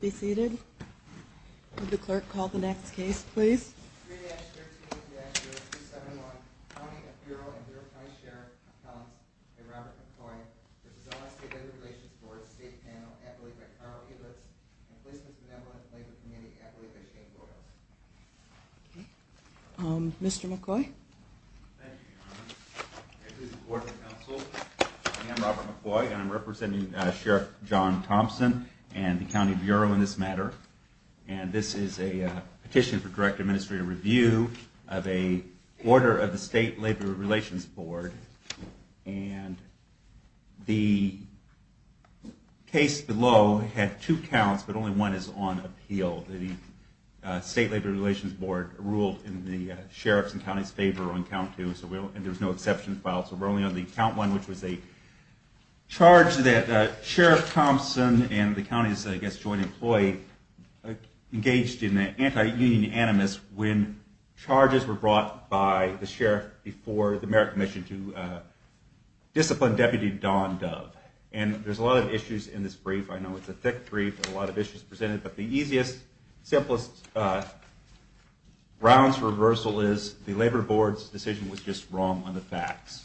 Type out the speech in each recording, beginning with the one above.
be seated. The clerk called the next case, please. Um, Mr McCoy. Thank you, Your Honor. This is the Board of Counsel. I am Robert McCoy, and I'm representing Sheriff John Thompson and the County Bureau in this matter, and this is a petition for direct administrative review of a order of the State Labor Relations Board, and the case below had two counts, but only one is on appeal. The State Labor Relations Board ruled in the sheriff's and county's favor on count two, and there was no exception filed, so we're only on the count one, which was a charge that Sheriff Thompson and the county's, I guess, joint employee engaged in an anti-union animus when charges were brought by the sheriff before the merit commission to discipline Deputy Don Dove, and there's a lot of issues in this brief. I know it's a thick brief with a lot of issues presented, but the easiest, simplest grounds for reversal is the Labor Board's decision was just wrong on the facts.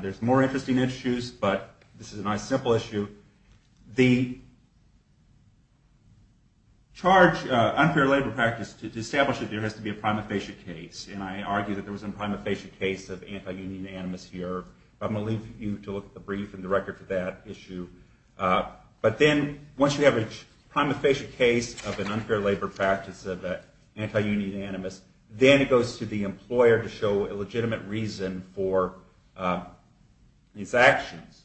There's more interesting issues, but this is a nice, simple issue. The charge, unfair labor practice, to establish it there has to be a prima facie case, and I argue that there was a prima facie case of anti-union animus here. I'm going to leave you to look at the brief and the record for that issue. But then, once you have a prima facie case of an unfair labor practice of an anti-union animus, then it goes to the employer to show a legitimate reason for these actions,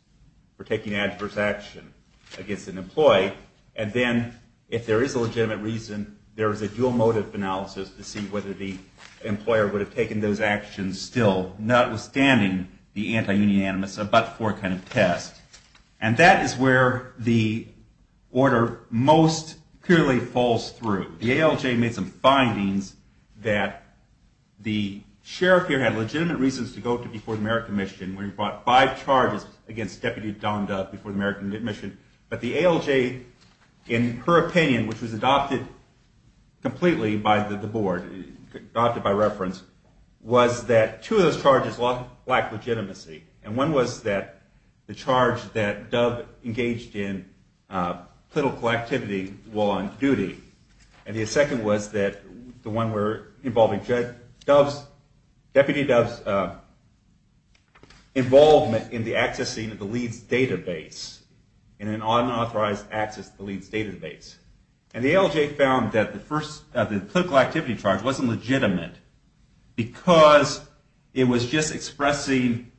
for taking adverse action against an employee, and then if there is a legitimate reason, there is a dual motive analysis to see whether the employer would have taken those actions still, notwithstanding the anti-union animus, a but-for kind of test. And that is where the order most clearly falls through. The ALJ made some findings that the sheriff here had legitimate reasons to go to before the merit commission, when he brought five charges against Deputy Don Dove before the merit commission, but the ALJ, in her opinion, which was adopted completely by the board, adopted by reference, was that two of those charges lacked legitimacy. And one was that the charge that Dove engaged in political activity while on duty, and the second was that the one involving Deputy Dove's involvement in the accessing of the Leeds database, in an unauthorized access to the Leeds database. And the ALJ found that the first, the political activity charge wasn't legitimate because it was just expressing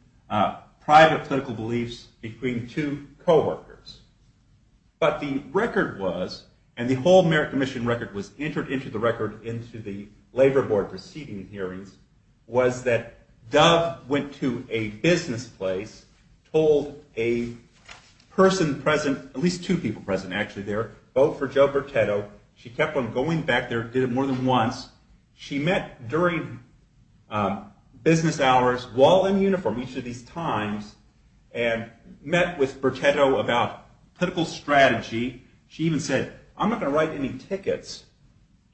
private political beliefs between two coworkers. But the record was, and the whole merit commission record was entered into the record into the labor board proceeding hearings, was that Dove went to a business place, told a person present, at least two people present actually there, vote for Joe Bertetto. She kept on going back there, did it more than once. She met during business hours while in uniform each of these times, and met with Bertetto about political strategy. She even said, I'm not going to write any tickets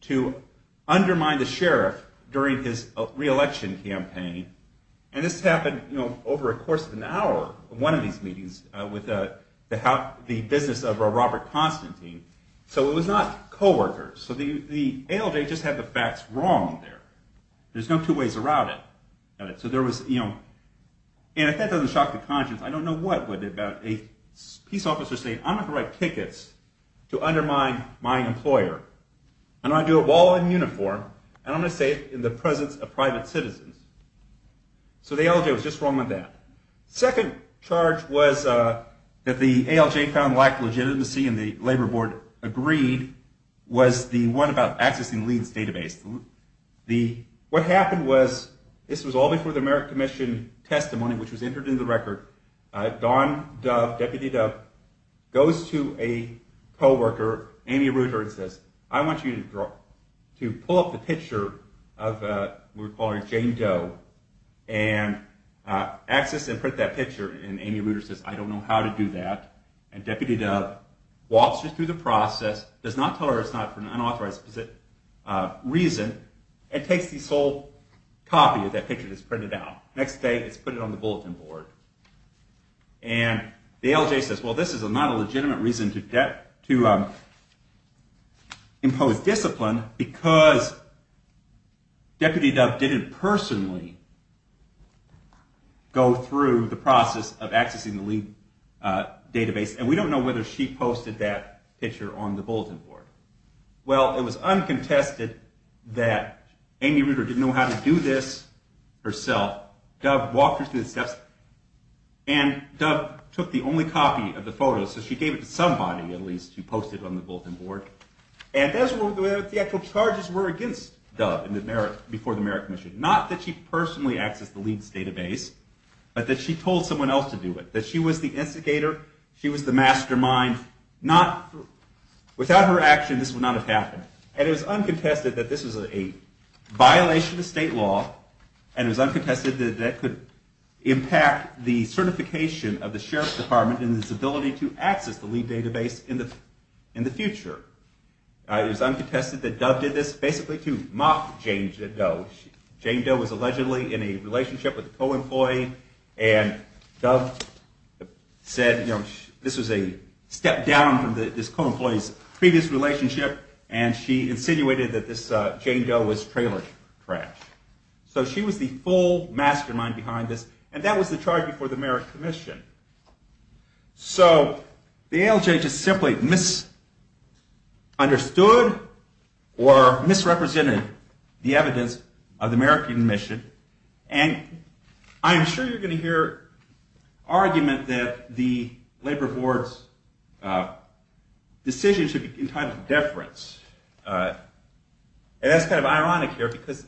to undermine the sheriff during his re-election campaign. And this happened over the course of an hour, one of these meetings, with the business of Robert Constantine. So it was not coworkers. So the ALJ just had the facts wrong there. There's no two ways around it. And if that doesn't shock the conscience, I don't know what would. A peace officer saying, I'm not going to write tickets to undermine my employer. I'm going to do it while in uniform, and I'm going to say it in the presence of private citizens. So the ALJ was just wrong with that. The second charge was that the ALJ found lack of legitimacy, and the labor board agreed, was the one about accessing Leeds' database. What happened was, this was all before the American Commission testimony, which was entered into the record. Don Dove, Deputy Dove, goes to a coworker, Amy Reuter, and says, I want you to pull up the picture of what we call Jane Doe, and access and print that picture. And Amy Reuter says, I don't know how to do that. And Deputy Dove walks her through the process, does not tell her it's not for an unauthorized reason, and takes this whole copy of that picture that's printed out. Next day, it's put it on the bulletin board. And the ALJ says, well, this is not a legitimate reason to impose discipline, because Deputy Dove didn't personally go through the process of accessing the Leeds' database, and we don't know whether she posted that picture on the bulletin board. Well, it was uncontested that Amy Reuter didn't know how to do this herself. Dove walked her through the steps, and Dove took the only copy of the photo, so she gave it to somebody, at least, who posted it on the bulletin board. And that's what the actual charges were against Dove before the American Commission. Not that she personally accessed the Leeds' database, but that she told someone else to do it, that she was the instigator, she was the mastermind. Without her action, this would not have happened. And it was uncontested that this was a violation of state law, and it was uncontested that that could impact the certification of the Sheriff's Department and its ability to access the Leeds' database in the future. It was uncontested that Dove did this basically to mock Jane Doe. Jane Doe was allegedly in a relationship with a co-employee, and Dove said, this was a step down from this co-employee's previous relationship, and she insinuated that this Jane Doe was trailer trash. So she was the full mastermind behind this, and that was the charge before the American Commission. So the ALJ just simply misunderstood or misrepresented the evidence of the American Commission, and I'm sure you're going to hear argument that the Labor Board's decision should be entitled to deference. And that's kind of ironic here, because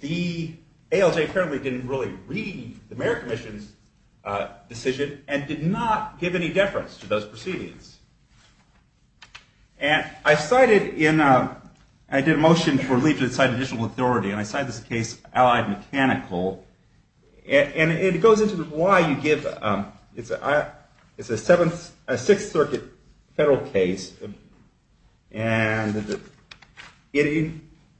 the ALJ apparently didn't really read the American Commission's decision and did not give any deference to those proceedings. And I did a motion for Leeds to decide additional authority, and I cited this case, Allied Mechanical. And it goes into why you give, it's a Sixth Circuit federal case, and it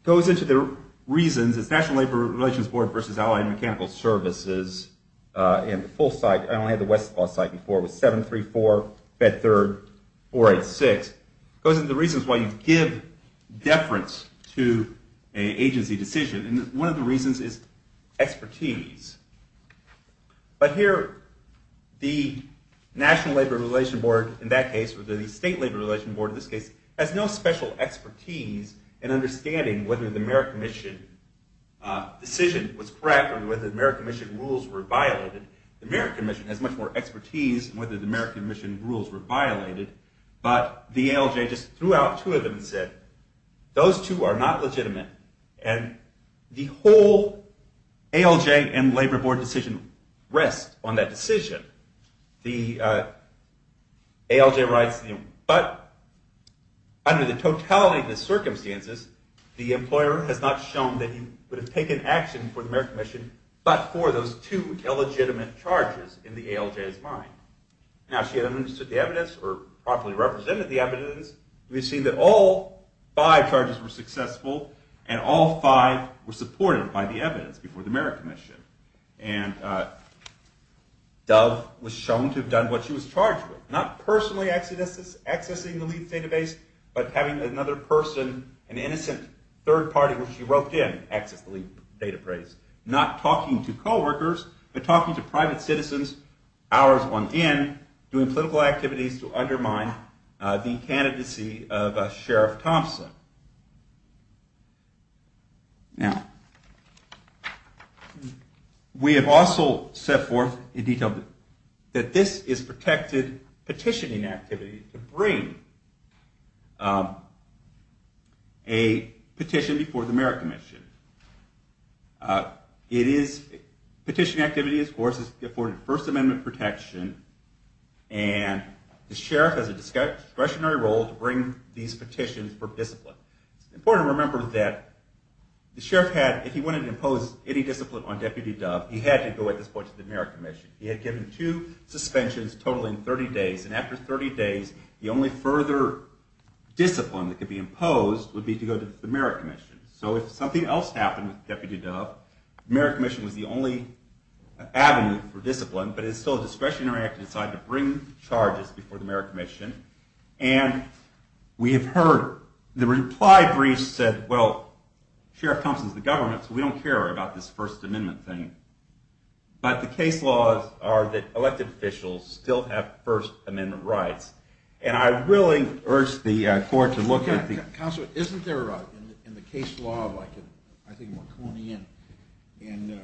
goes into the reasons, it's National Labor Relations Board versus Allied Mechanical Services, and the full site, I only had the Westlaw site before, it was 734, Fed Third, 486. It goes into the reasons why you give deference to an agency decision, and one of the reasons is expertise. But here, the National Labor Relations Board in that case, or the State Labor Relations Board in this case, has no special expertise in understanding whether the American Commission decision was correct, or whether the American Commission rules were violated. The American Commission has much more expertise in whether the American Commission rules were violated, but the ALJ just threw out two of them and said, those two are not legitimate, and the whole ALJ and Labor Board decision rests on that decision. The ALJ writes, but under the totality of the circumstances, the employer has not shown that he would have taken action for the American Commission, but for those two illegitimate charges in the ALJ's mind. Now, if she hadn't understood the evidence, or properly represented the evidence, we see that all five charges were successful, and all five were supported by the evidence before the American Commission. And Dove was shown to have done what she was charged with, not personally accessing the LEAP database, but having another person, an innocent third party, which she wrote in, access the LEAP database. Not talking to co-workers, but talking to private citizens, hours on end, doing political activities to undermine the candidacy of Sheriff Thompson. Now, we have also set forth in detail that this is protected petitioning activity to bring a petition before the American Commission. Petitioning activity, of course, is afforded First Amendment protection, and the Sheriff has a discretionary role to bring these petitions for discipline. It's important to remember that the Sheriff had, if he wanted to impose any discipline on Deputy Dove, he had to go at this point to the American Commission. He had given two suspensions totaling 30 days, and after 30 days, the only further discipline that could be imposed would be to go to the American Commission. So if something else happened with Deputy Dove, the American Commission was the only avenue for discipline, but it's still a discretionary act to decide to bring charges before the American Commission, and we have heard the reply briefs said, well, Sheriff Thompson's the government, so we don't care about this First Amendment thing, but the case laws are that elected officials still have First Amendment rights, and I really urge the court to look at the- Counselor, isn't there, in the case law of, I think, Marconi and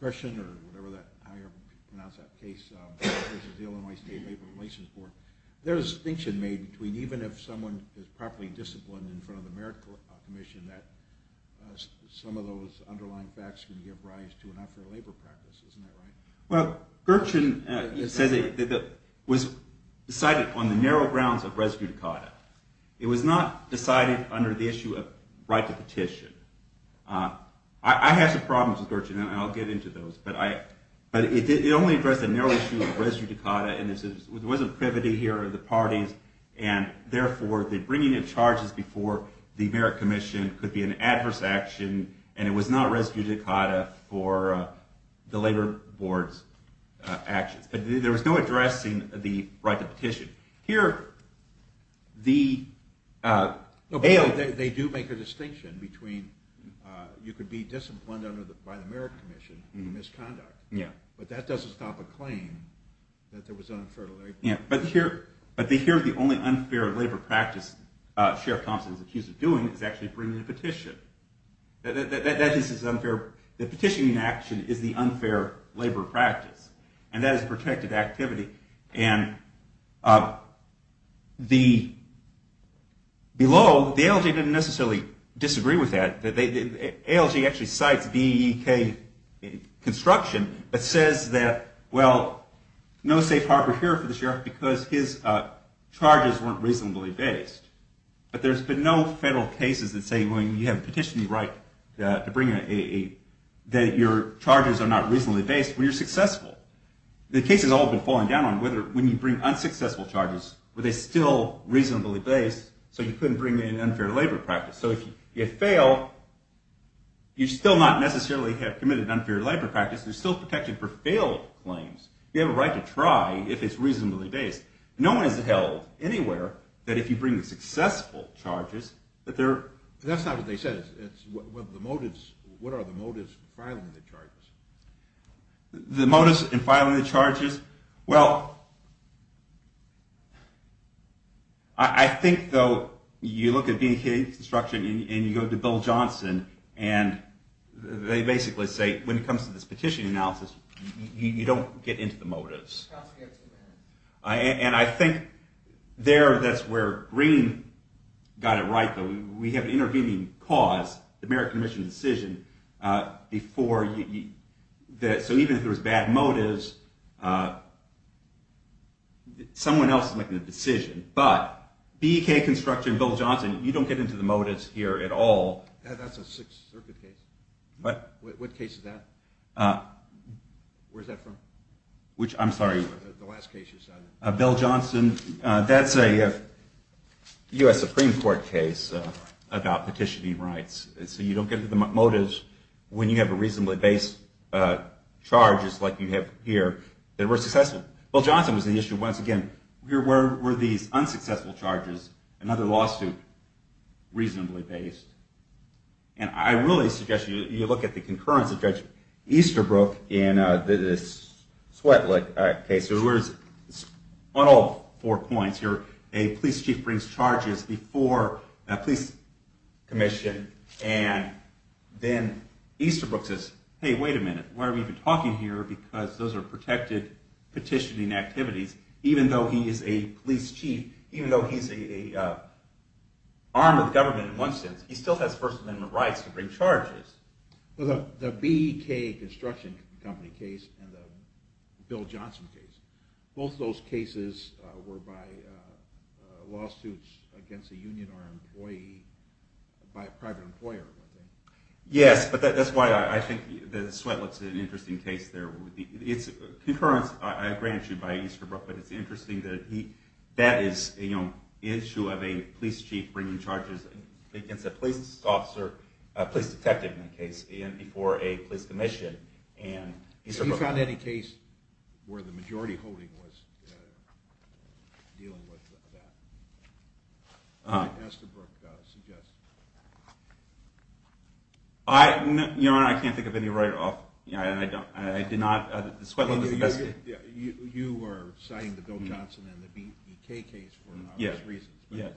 Gurchin, or however you pronounce that case, which is the Illinois State Labor Relations Board, there's a distinction made between even if someone is properly disciplined in front of the American Commission, that some of those underlying facts can give rise to an unfair labor practice, isn't that right? Well, Gurchin says it was decided on the narrow grounds of res judicata. It was not decided under the issue of right to petition. I have some problems with Gurchin, and I'll get into those, but it only addressed a narrow issue of res judicata, and there wasn't privity here of the parties, and the labor board's actions. There was no addressing the right to petition. Here, the- They do make a distinction between, you could be disciplined by the American Commission for misconduct, but that doesn't stop a claim that there was unfair labor practice. But here, the only unfair labor practice Sheriff Thompson is accused of doing is actually bringing a petition. The petitioning action is the unfair labor practice, and that is protected activity. And below, the ALJ didn't necessarily disagree with that. ALJ actually cites DEK construction, but says that, well, no safe harbor here for the Sheriff because his charges weren't reasonably based. But there's been no federal cases that say, well, you have a petitioning right to bring a- that your charges are not reasonably based when you're successful. The case has all been falling down on whether, when you bring unsuccessful charges, were they still reasonably based, so you couldn't bring in unfair labor practice. So if you fail, you still not necessarily have committed unfair labor practice. There's still protection for unsuccessful charges, but they're- That's not what they said. It's what are the motives in filing the charges? The motives in filing the charges? Well, I think, though, you look at DEK construction, and you go to Bill Johnson, and they basically say, when it comes to this petitioning analysis, you don't get into the motives. And I think there, that's where Green got it right, though. We have an intervening cause, the Merit Commission decision, before- so even if there was bad motives, someone else is making the decision. But DEK construction, Bill Johnson, you don't get into the motives here at all. That's a Sixth Circuit case. What case is that? Where's that from? Which- I'm sorry. The last case you cited. Bill Johnson, that's a US Supreme Court case about petitioning rights. So you don't get into the motives when you have a reasonably based charge, just like you have here, that were successful. Bill Johnson was the issue once again. Where were these unsuccessful charges? Another lawsuit, reasonably based. And I really suggest you look at the concurrence of Judge Easterbrook in this Swetlik case. On all four points here, a police chief brings charges before a police commission, and then Easterbrook says, hey, wait a minute. Why are we even talking here? Because those are protected petitioning activities. Even though he is a police chief, even though he's armed with government in one sense, he still has First Amendment rights to bring charges. The BK Construction Company case and the Bill Johnson case, both of those cases were by lawsuits against a union armed employee by a private employer. Yes, but that's why I think the Swetlik is an interesting case there. It's a great issue by Easterbrook, but it's interesting that that is the issue of a police chief bringing charges against a police detective in a case before a police commission. Have you found any case where the majority holding was dealing with that, as Easterbrook suggests? I can't think of any right off. You were citing the Bill Johnson and the BK case for obvious reasons,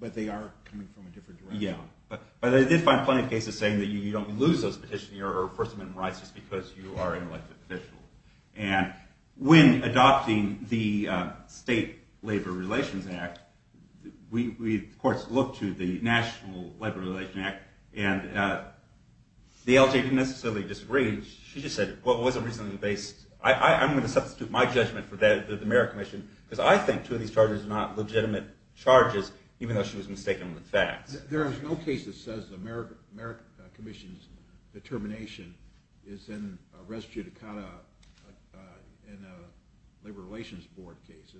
but they are coming from a different direction. But I did find plenty of cases saying that you don't lose those petitioning or First Amendment rights just because you are an elected official. And when adopting the State Labor Relations Act, we of course looked to the National Labor Relations Act, and the LJ didn't necessarily disagree. She just said, well, it wasn't reasonably based. I'm going to substitute my judgment for the mayor commission, because I think two of these charges are not legitimate charges, even though she was mistaken with facts. There is no case that says the mayor commission's determination is in a res judicata in a labor relations board case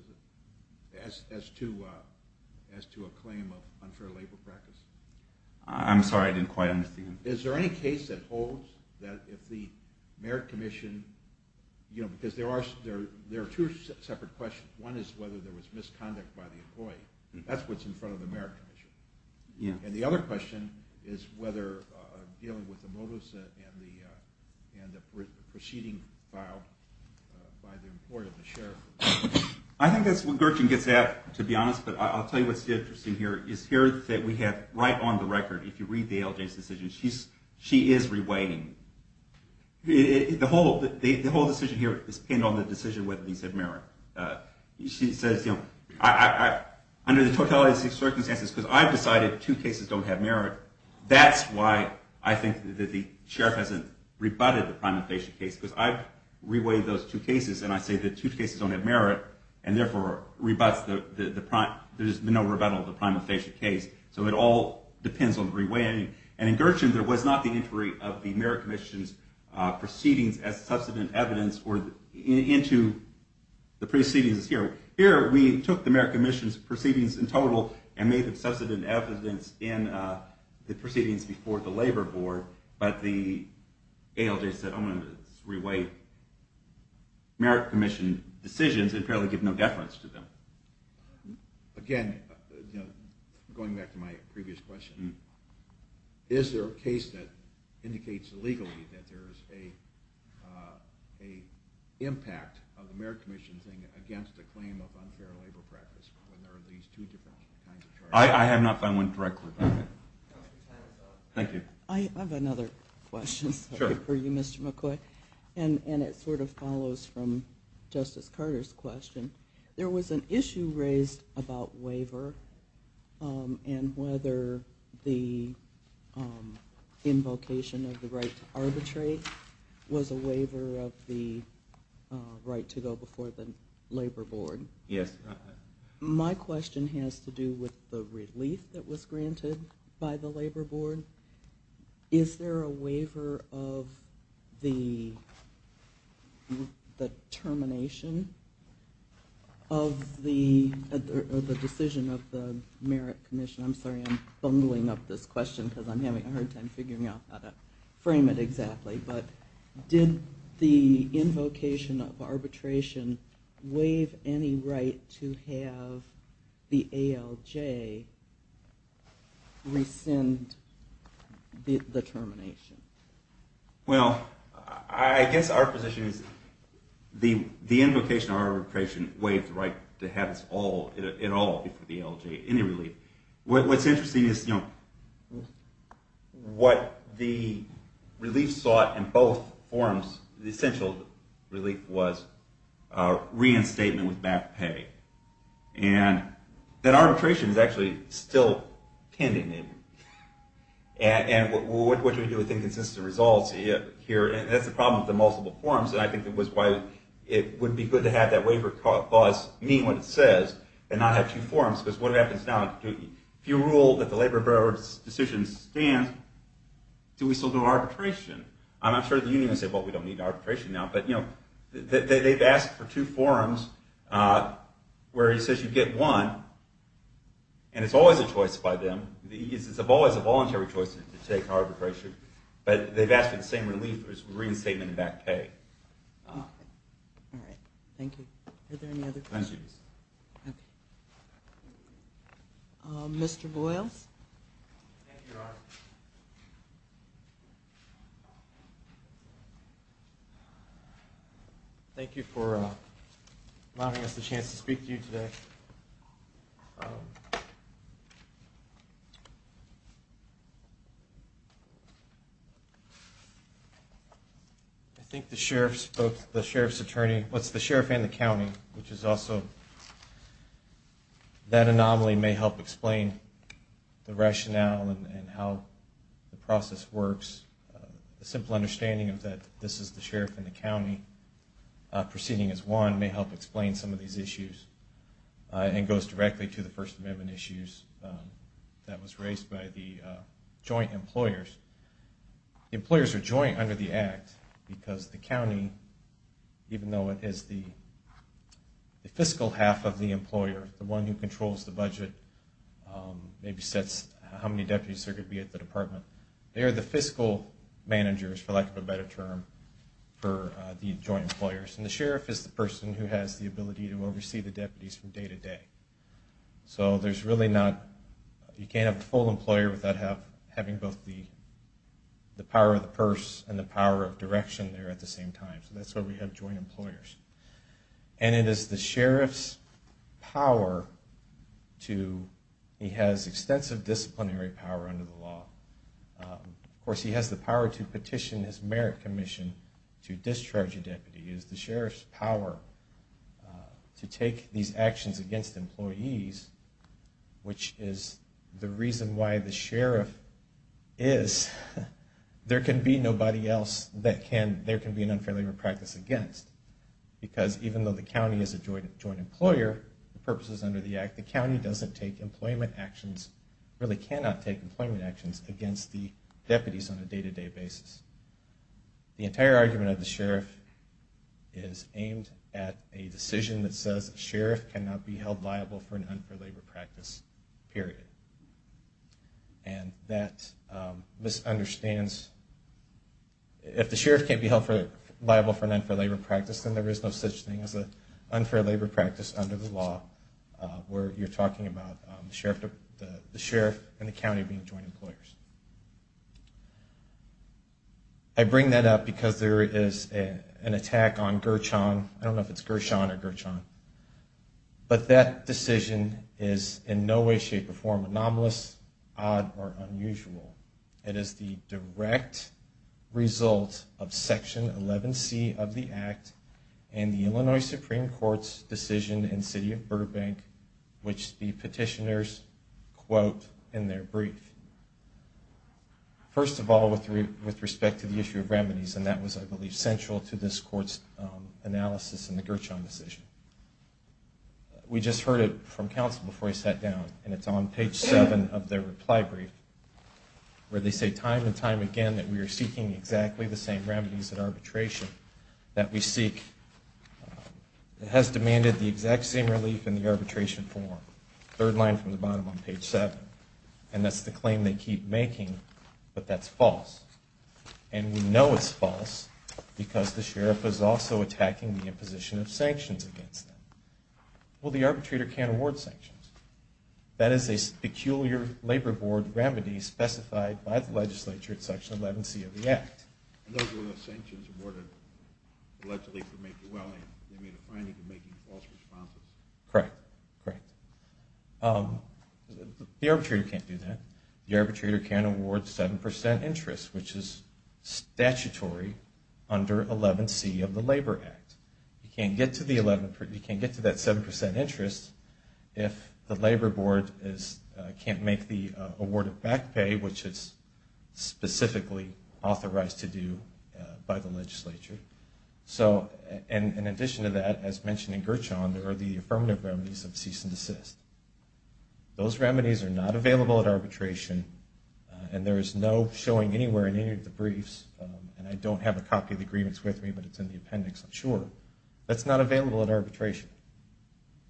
as to a claim of unfair labor practice. I'm sorry, I didn't quite understand. Is there any case that holds that if the mayor commission, because there are two separate questions. One is whether there was misconduct by the employee. That's what's in front of the mayor commission. And the other question is whether dealing with the motives and the proceeding filed by the employer, the sheriff. I think that's where Gertrude gets at, to be honest, but I'll tell you what's interesting here. Is here that we have right on the record, if you read the LJ's decision, she is reweighing. The whole decision here is pinned on the decision whether these have merit. She says, under the totality of circumstances, because I've decided two cases don't have merit, that's why I think that the sheriff hasn't rebutted the merit and therefore rebuts, there's no rebuttal of the prima facie case. So it all depends on the reweighing. And in Gertrude, there was not the entry of the mayor commission's proceedings as substantive evidence into the proceedings here. Here, we took the mayor commission's proceedings in total and made them substantive evidence in the proceedings before the labor board. But the ALJ said, I'm going to reweigh merit commission decisions and apparently give no deference to them. Again, going back to my previous question, is there a case that indicates legally that there is an impact of the merit commission against a claim of unfair labor practice? I have not found one directly. Thank you. I have another question for you, Mr. McCoy. And it sort of follows from Justice Carter's question. There was an issue raised about waiver and whether the invocation of the right to arbitrate was a waiver of the right to go before the labor board. Yes. My question has to do with the relief that was granted by the labor board. Is there a waiver of the termination of the decision of the merit commission? I'm sorry, I'm bungling up this question because I'm having a hard time figuring out how to frame it exactly. But did the invocation of arbitration waive any right to have the ALJ rescind the termination? Well, I guess our position is the invocation of arbitration waived the right to have it all before the ALJ, any relief. What's interesting is what the relief sought in both forms, the essential relief, was reinstatement with back pay. And that arbitration is actually still pending. And what do we do with inconsistent results here? And that's the problem with the multiple forms. And I think that was why it would be good to have that waiver clause mean what it says and not have two forms. Because what happens now, if you rule that the labor board's decision stands, do we still do arbitration? I'm sure the union would say, well, we don't need arbitration now. But they've asked for two forms where it says you get one. And it's always a choice by them. It's always a voluntary choice to take arbitration. But they've asked for the same relief as reinstatement and back pay. All right. Thank you. Are there any other questions? Thank you, Your Honor. Thank you for allowing us the chance to speak to you today. I think the sheriff's attorney, the sheriff and the county, which is also that anomaly may help explain the rationale and how the process works. A simple understanding of that this is the sheriff and the county proceeding as one may help explain some of these issues and goes directly to the First Amendment issues that was raised by the joint employers. The employers are joint under the Act because the county, even though it is the fiscal half of the employer, the one who controls the budget, maybe sets how many deputies there could be at the department, they are the fiscal managers, for lack of a better term, for the joint employers. And the sheriff is the person who has the ability to oversee the deputies from day to day. So there's really not you can't have a full employer without having both the power of the purse and the power of direction there at the same time. So that's why we have joint employers. And it is the sheriff's power to, he has extensive disciplinary power under the law. Of course he has the power to petition his merit commission to discharge a deputy. It is the sheriff's power to take these actions against employees, which is the reason why the sheriff is, there can be nobody else that can, there can be an unfair labor practice against. Because even though the county is a joint employer, the purposes under the Act, the county doesn't take employment actions, really cannot take employment actions, against the deputies on a day to day basis. The entire argument of the sheriff is aimed at a decision that says a sheriff cannot be held liable for an unfair labor practice, period. And that misunderstands, if the sheriff can't be held liable for an unfair labor practice, then there is no such thing as an unfair labor practice under the law, where you're talking about the sheriff and the county being joint employers. I bring that up because there is an attack on Gershon, I don't know if it's Gershon or Gershon, but that decision is in no way, shape, or form anomalous, odd, or unusual. It is the direct result of Section 11C of the Act and the Illinois Supreme Court's decision in the city of Burbank, which the petitioners quote in their brief. First of all, with respect to the issue of remedies, and that was, I believe, essential to this court's analysis in the Gershon decision. We just heard it from counsel before he sat down, and it's on page 7 of their reply brief, where they say time and time again that we are seeking exactly the same remedies in arbitration that we seek. It has demanded the exact same relief in the arbitration form, third line from the bottom on page 7. And that's the claim they keep making, but that's false. And we know it's false because the sheriff is also attacking the imposition of sanctions against them. Well, the arbitrator can't award sanctions. That is a peculiar labor board remedy specified by the legislature in Section 11C of the Act. And those were the sanctions awarded allegedly for making welling. They made a finding for making false responses. Correct, correct. The arbitrator can't do that. The arbitrator can't award 7% interest, which is statutory under 11C of the Labor Act. You can't get to that 7% interest if the labor board can't make the award of back pay, which is specifically authorized to do by the legislature. So in addition to that, as mentioned in Gershon, there are the affirmative remedies of cease and desist. Those remedies are not available at arbitration, and there is no showing anywhere in any of the briefs. And I don't have a copy of the agreements with me, but it's in the appendix. I'm sure. That's not available at arbitration.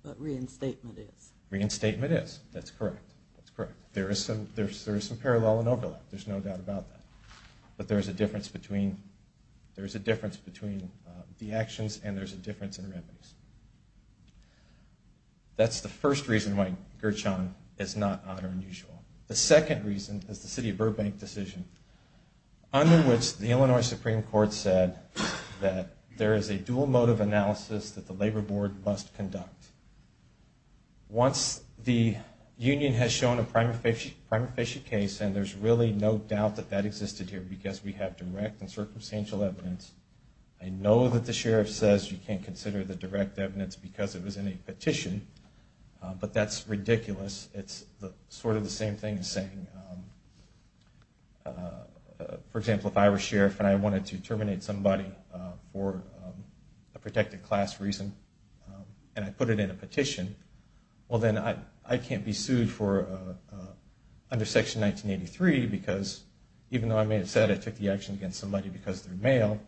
But reinstatement is. Reinstatement is. That's correct. That's correct. There is some parallel and overlap. There's no doubt about that. But there is a difference between the actions and there's a difference in remedies. That's the first reason why Gershon is not honor and usual. The second reason is the City of Burbank decision, under which the Illinois Supreme Court said that there is a dual motive analysis that the labor board must conduct. Once the union has shown a prima facie case, and there's really no doubt that that existed here because we have direct and circumstantial evidence, I know that the sheriff says you can't consider the direct evidence because it was in a petition, but that's ridiculous. It's sort of the same thing as saying, for example, if I were sheriff and I wanted to terminate somebody for a protected class reason and I put it in a petition, well then I can't be sued under Section 1983 because even though I may have said I took the action against somebody because they're male,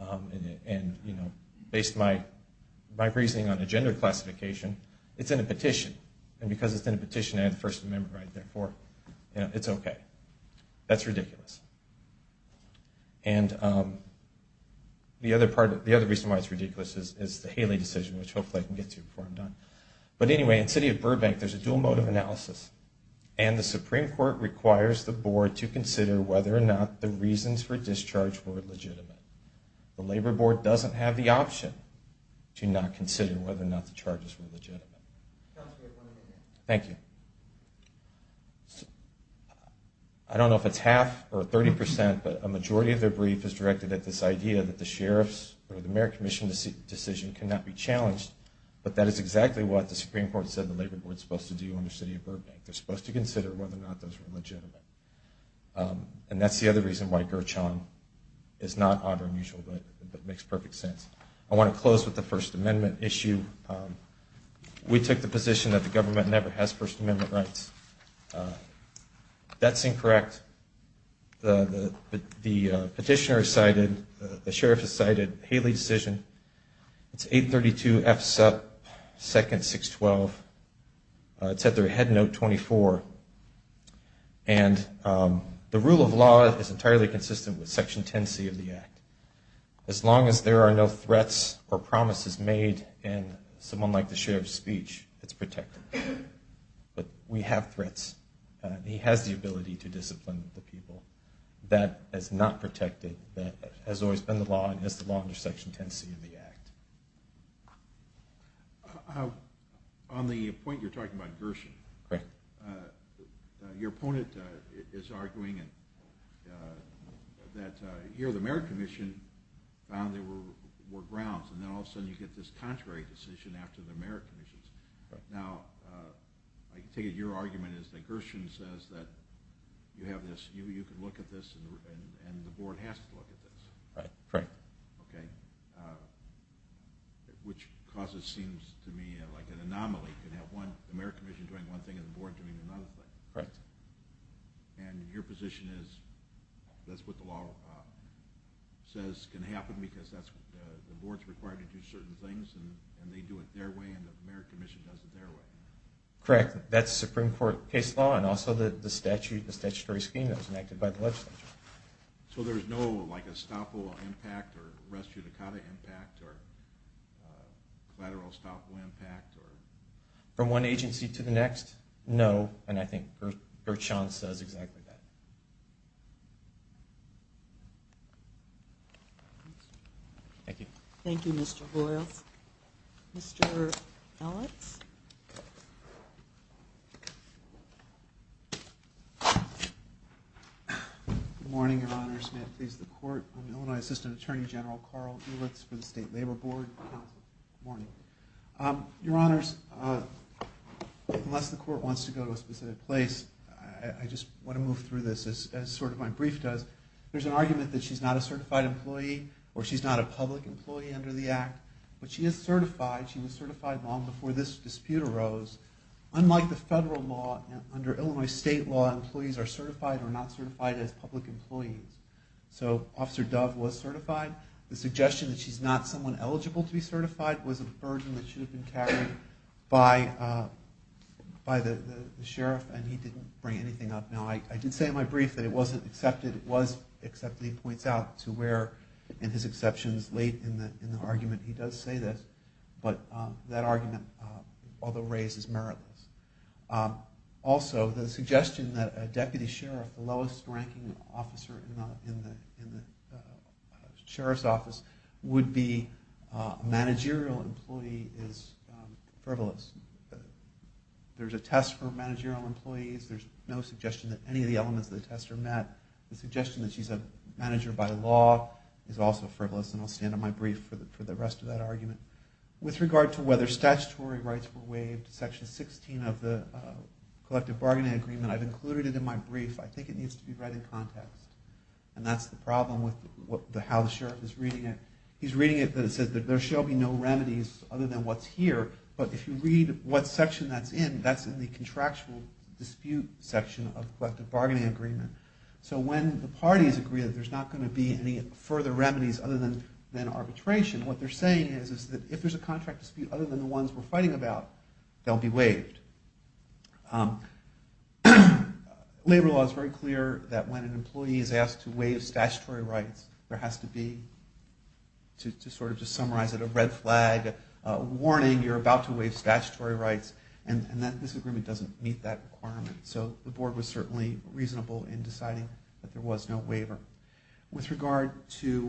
and based my reasoning on a gender classification, it's in a petition. And because it's in a petition, I have the First Amendment right there for it. That's ridiculous. And the other reason why it's ridiculous is the Haley decision, which hopefully I can get to before I'm done. But anyway, in the City of Burbank, there's a dual motive analysis. And the Supreme Court requires the board to consider whether or not the reasons for discharge were legitimate. The labor board doesn't have the option to not consider whether or not the charges were legitimate. Thank you. I don't know if it's half or 30%, but a majority of their brief is directed at this idea that the sheriff's or the mayor commission's decision cannot be challenged. But that is exactly what the Supreme Court said the labor board is supposed to do under City of Burbank. They're supposed to consider whether or not those were legitimate. And that's the other reason why Gurchon is not odd or unusual, but makes perfect sense. I want to close with the First Amendment issue. We took the position that the government never has First Amendment rights. That's incorrect. The petitioner cited, the sheriff has cited Haley's decision. It's 832 F. Supp. 2nd. 612. It's at their head note 24. And the rule of law is entirely consistent with Section 10C of the Act. As long as there are no threats or promises made in someone like the sheriff's speech, it's protected. But we have threats. He has the ability to discipline the people. That is not protected. That has always been the law and is the law under Section 10C of the Act. On the point you're talking about Gurchon, your opponent is arguing that here the Merit Commission found there were grounds, and then all of a sudden you get this contrary decision after the Merit Commission. Now, I take it your argument is that Gurchon says that you can look at this and the board has to look at this. Right. Correct. Okay. Which causes, seems to me, like an anomaly. You can have the Merit Commission doing one thing and the board doing another thing. Correct. And your position is that's what the law says can happen because the board's required to do certain things and they do it their way and the Merit Commission does it their way. Correct. That's Supreme Court case law and also the statutory scheme that was enacted by the legislature. So there's no, like, estoppel impact or res judicata impact or collateral estoppel impact? From one agency to the next, no, and I think Gurchon says exactly that. Thank you. Thank you, Mr. Hoyles. Mr. Alex? Good morning, Your Honors. May it please the Court. I'm Illinois Assistant Attorney General Carl Ulitz for the State Labor Board. Good morning. Your Honors, unless the Court wants to go to a specific place, I just want to move through this as sort of my brief does. There's an argument that she's not a certified employee or she's not a public employee under the Act, but she is certified. She was certified long before this dispute arose. Unlike the federal law, under Illinois state law, employees are certified or not certified as public employees. So Officer Dove was certified. The suggestion that she's not someone eligible to be certified was a version that should have been carried by the sheriff and he didn't bring anything up. Now, I did say in my brief that it wasn't accepted. It was accepted. He points out to where in his exceptions late in the argument he does say this, but that argument, although raised, is meritless. Also, the suggestion that a deputy sheriff, the lowest ranking officer in the sheriff's office, would be a managerial employee is frivolous. There's a test for managerial employees. There's no suggestion that any of the elements of the test are met. The suggestion that she's a manager by law is also frivolous, and I'll stand on my brief for the rest of that argument. With regard to whether statutory rights were waived, section 16 of the collective bargaining agreement, I've included it in my brief. I think it needs to be read in context, and that's the problem with how the sheriff is reading it. He's reading it, but it says that there shall be no remedies other than what's here, but if you read what section that's in, that's in the contractual dispute section of the collective bargaining agreement. So when the parties agree that there's not going to be any further remedies other than arbitration, what they're saying is that if there's a contract dispute other than the ones we're fighting about, they'll be waived. Labor law is very clear that when an employee is asked to waive statutory rights, there has to be, to sort of just summarize it, a red flag, a warning, you're about to waive statutory rights, and this agreement doesn't meet that requirement. So the board was certainly reasonable in deciding that there was no waiver. With regard to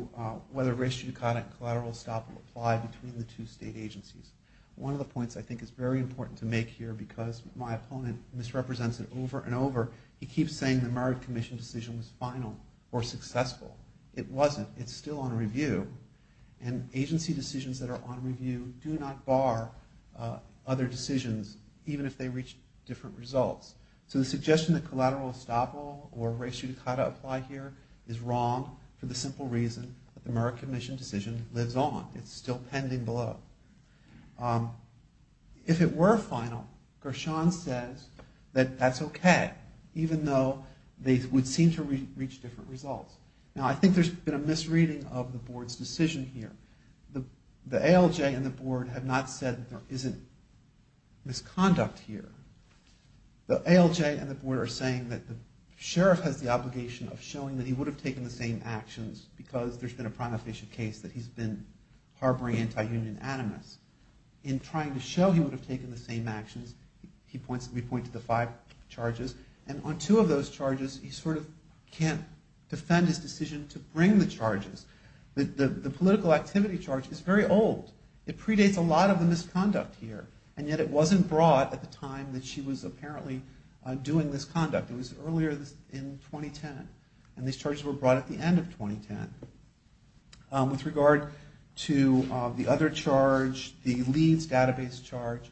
whether ratio-economic collateral stop will apply between the two state agencies, one of the points I think is very important to make here, because my opponent misrepresents it over and over, he keeps saying the Merritt Commission decision was final or successful. It wasn't. It's still on review, and agency decisions that are on review do not bar other decisions, even if they reach different results. So the suggestion that collateral stop will or ratio-economic collateral apply here is wrong for the simple reason that the Merritt Commission decision lives on. It's still pending below. If it were final, Gershon says that that's okay, even though they would seem to reach different results. Now, I think there's been a misreading of the board's decision here. The ALJ and the board have not said that there isn't misconduct here. The ALJ and the board are saying that the sheriff has the obligation of showing that he would have taken the same actions because there's been a prima facie case that he's been harboring anti-union animus. In trying to show he would have taken the same actions, we point to the five charges, and on two of those charges, he sort of can't defend his decision to bring the charges. The political activity charge is very old. It predates a lot of the misconduct here, and yet it wasn't brought at the time that she was apparently doing this conduct. It was earlier in 2010, and these charges were brought at the end of 2010. With regard to the other charge, the Leeds database charge,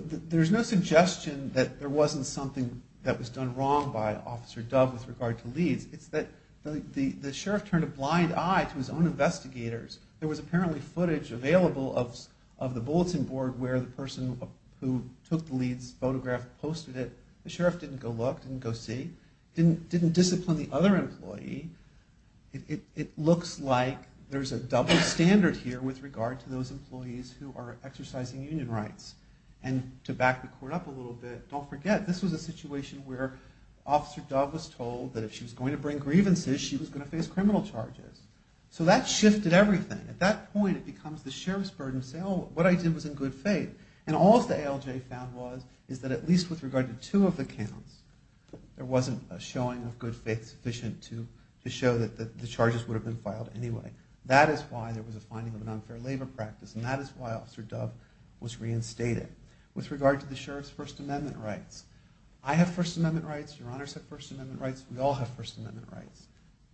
there's no suggestion that there wasn't something that was done wrong by Officer Dove with regard to Leeds. It's that the sheriff turned a blind eye to his own investigators. There was apparently footage available of the bulletin board where the person who took the Leeds photograph posted it. The sheriff didn't go look, didn't go see, didn't discipline the other employee. It looks like there's a double standard here with regard to those employees who are exercising union rights. And to back the court up a little bit, don't forget, this was a situation where Officer Dove was told that if she was going to bring grievances, she was going to face criminal charges. So that shifted everything. At that point, it becomes the sheriff's burden to say, oh, what I did was in good faith. And all that the ALJ found was is that at least with regard to two of the counts, there wasn't a showing of good faith sufficient to show that the charges would have been filed anyway. That is why there was a finding of an unfair labor practice, and that is why Officer Dove was reinstated. With regard to the sheriff's First Amendment rights. I have First Amendment rights. Your Honor has First Amendment rights. We all have First Amendment rights.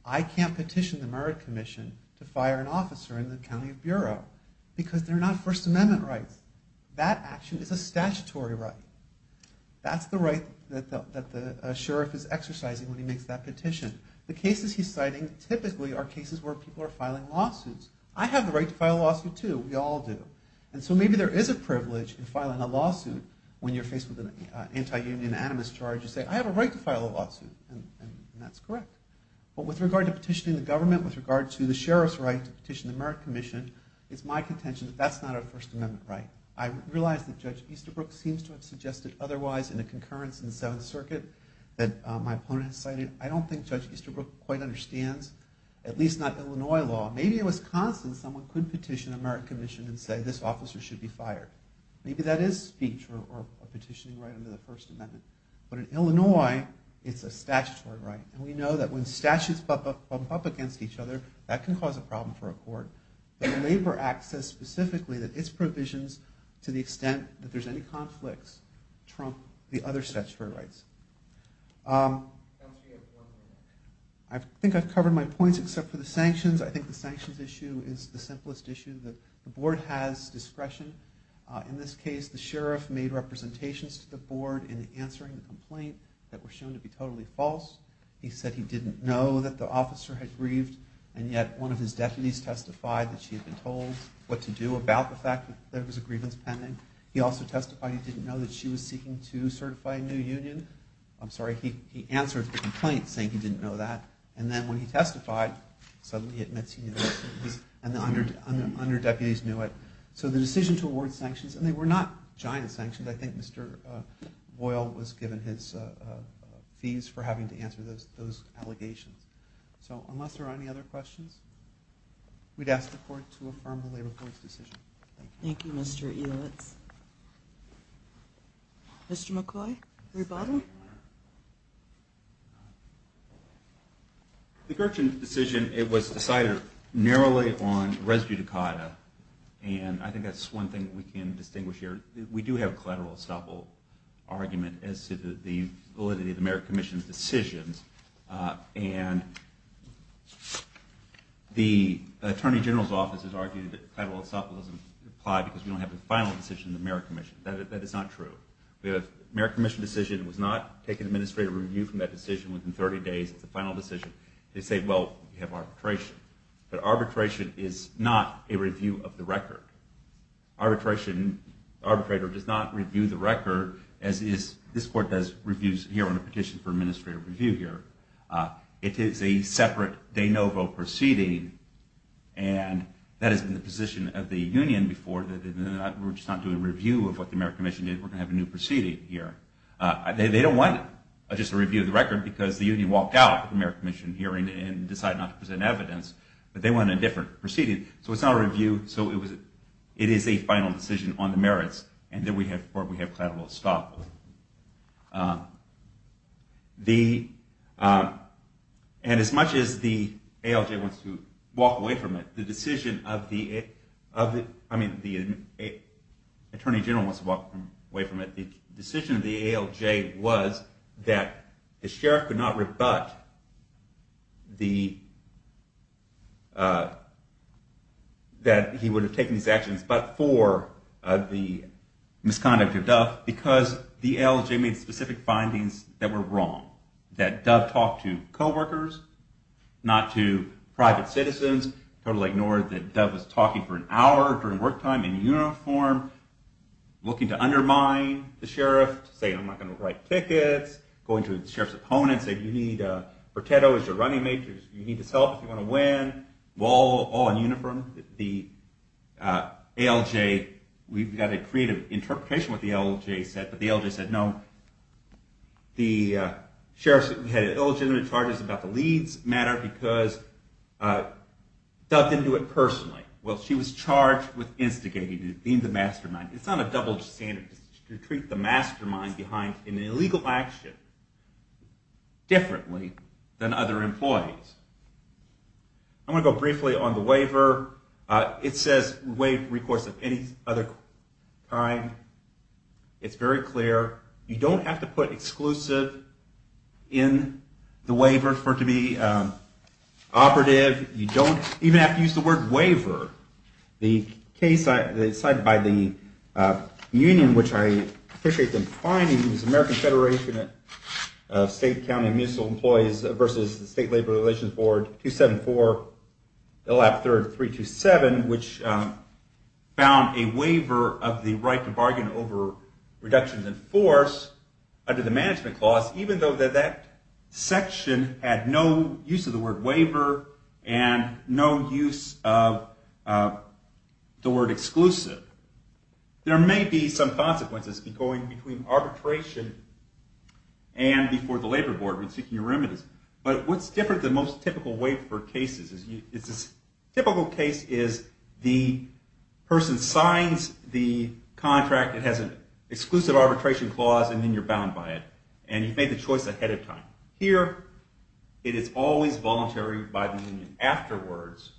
I can't petition the Merritt Commission to fire an officer in the County Bureau because they're not First Amendment rights. That action is a statutory right. That's the right that the sheriff is exercising when he makes that petition. The cases he's citing typically are cases where people are filing lawsuits. I have the right to file a lawsuit, too. We all do. And so maybe there is a privilege in filing a lawsuit when you're faced with an anti-union animus charge. You say, I have a right to file a lawsuit, and that's correct. But with regard to petitioning the government, with regard to the sheriff's right to petition the Merritt Commission, it's my contention that that's not a First Amendment right. I realize that Judge Easterbrook seems to have suggested otherwise in a concurrence in the Seventh Circuit that my opponent has cited. I don't think Judge Easterbrook quite understands, at least not Illinois law. Maybe in Wisconsin someone could petition the Merritt Commission and say this officer should be fired. Maybe that is speech or a petitioning right under the First Amendment. But in Illinois, it's a statutory right. And we know that when statutes bump up against each other, that can cause a problem for a court. But the Labor Act says specifically that its provisions, to the extent that there's any conflicts, trump the other statutory rights. I think I've covered my points except for the sanctions. I think the sanctions issue is the simplest issue. The board has discretion. In this case, the sheriff made representations to the board in answering the complaint that were shown to be totally false. He said he didn't know that the officer had grieved, and yet one of his deputies testified that she had been told what to do about the fact that there was a grievance pending. He also testified he didn't know that she was seeking to certify a new union. I'm sorry, he answered the complaint saying he didn't know that. And then when he testified, suddenly he admits he knew this, and the under-deputies knew it. So the decision to award sanctions, and they were not giant sanctions. I think Mr. Boyle was given his fees for having to answer those allegations. So unless there are any other questions, we'd ask the court to affirm the labor court's decision. Thank you. Thank you, Mr. Eulitz. Mr. McCoy, rebuttal? The Gurchin decision was decided narrowly on res judicata, and I think that's one thing we can distinguish here. We do have a collateral estoppel argument as to the validity of the Merit Commission's decisions, and the Attorney General's Office has argued that collateral estoppel doesn't apply because we don't have the final decision of the Merit Commission. That is not true. The Merit Commission decision was not taken administrative review from that decision within 30 days of the final decision. They say, well, we have arbitration. But arbitration is not a review of the record. Arbitrator does not review the record, as this court does reviews here on a petition for administrative review here. It is a separate de novo proceeding, and that has been the position of the union before. We're just not doing a review of what the Merit Commission did. We're going to have a new proceeding here. They don't want just a review of the record because the union walked out of the Merit Commission hearing and decided not to present evidence, but they want a different proceeding. So it's not a review. So it is a final decision on the merits, and then we have collateral estoppel. And as much as the ALJ wants to walk away from it, the decision of the Attorney General wants to walk away from it, the decision of the ALJ was that the sheriff could not rebut that he would have taken these actions but for the misconduct of Dove because the ALJ made specific findings that were wrong, that Dove talked to coworkers, not to private citizens, totally ignored that Dove was talking for an hour during work time in uniform, looking to undermine the sheriff, saying I'm not going to write tickets, going to the sheriff's opponent, saying you need, or Teddo is your running mate, you need this help if you want to win, all in uniform. The ALJ, we've got to create an interpretation of what the ALJ said, but the ALJ said no. The sheriff had illegitimate charges about the Leeds matter because Dove didn't do it personally. Well, she was charged with instigating the mastermind. It's not a double standard to treat the mastermind behind an illegal action differently than other employees. I'm going to go briefly on the waiver. It says waive recourse of any other crime. It's very clear. You don't have to put exclusive in the waiver for it to be operative. You don't even have to use the word waiver. The case cited by the union, which I appreciate them finding, it was the American Federation of State, County, and Municipal Employees versus the State Labor Relations Board, 274, 327, which found a waiver of the right to bargain over reductions in force under the management clause, even though that that section had no use of the word waiver and no use of the word exclusive. There may be some consequences going between arbitration and before the labor board when seeking a remittance. But what's different than most typical waiver cases is a typical case is the person signs the contract. It has an exclusive arbitration clause, and then you're bound by it. And you've made the choice ahead of time. Here, it is always voluntary by the union. Afterwards,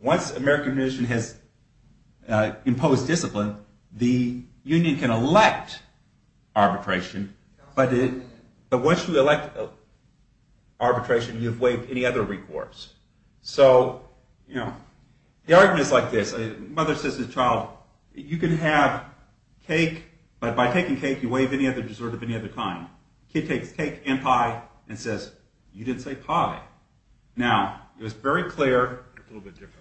once American Commission has imposed discipline, the union can elect arbitration. But once you elect arbitration, you've waived any other recourse. So the argument is like this. Mother says to the child, you can have cake, but by taking cake, you waive any other resort of any other kind. Kid takes cake and pie and says, you didn't say pie. Now, it was very clear. It's a little bit different,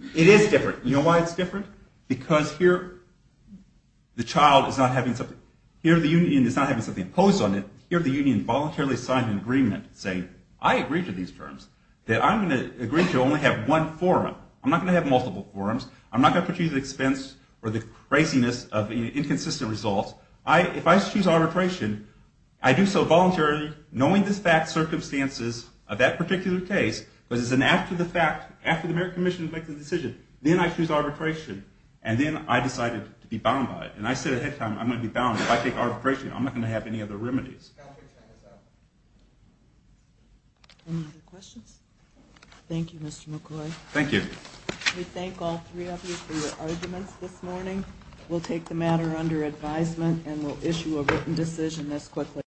isn't it? It is different. You know why it's different? Because here, the child is not having something. Here, the union is not having something imposed on it. Here, the union voluntarily signed an agreement saying, I agree to these terms, that I'm going to agree to only have one forum. I'm not going to have multiple forums. I'm not going to put you to expense for the craziness of inconsistent results. If I choose arbitration, I do so voluntarily, knowing the fact, circumstances of that particular case, because it's an act of the fact. After the American Commission makes a decision, then I choose arbitration. And then I decided to be bound by it. And I said ahead of time, I'm going to be bound. If I take arbitration, I'm not going to have any other remedies. Any other questions? Thank you, Mr. McCoy. Thank you. We thank all three of you for your arguments this morning. We'll take the matter under advisement, and we'll issue a written decision as quickly as possible.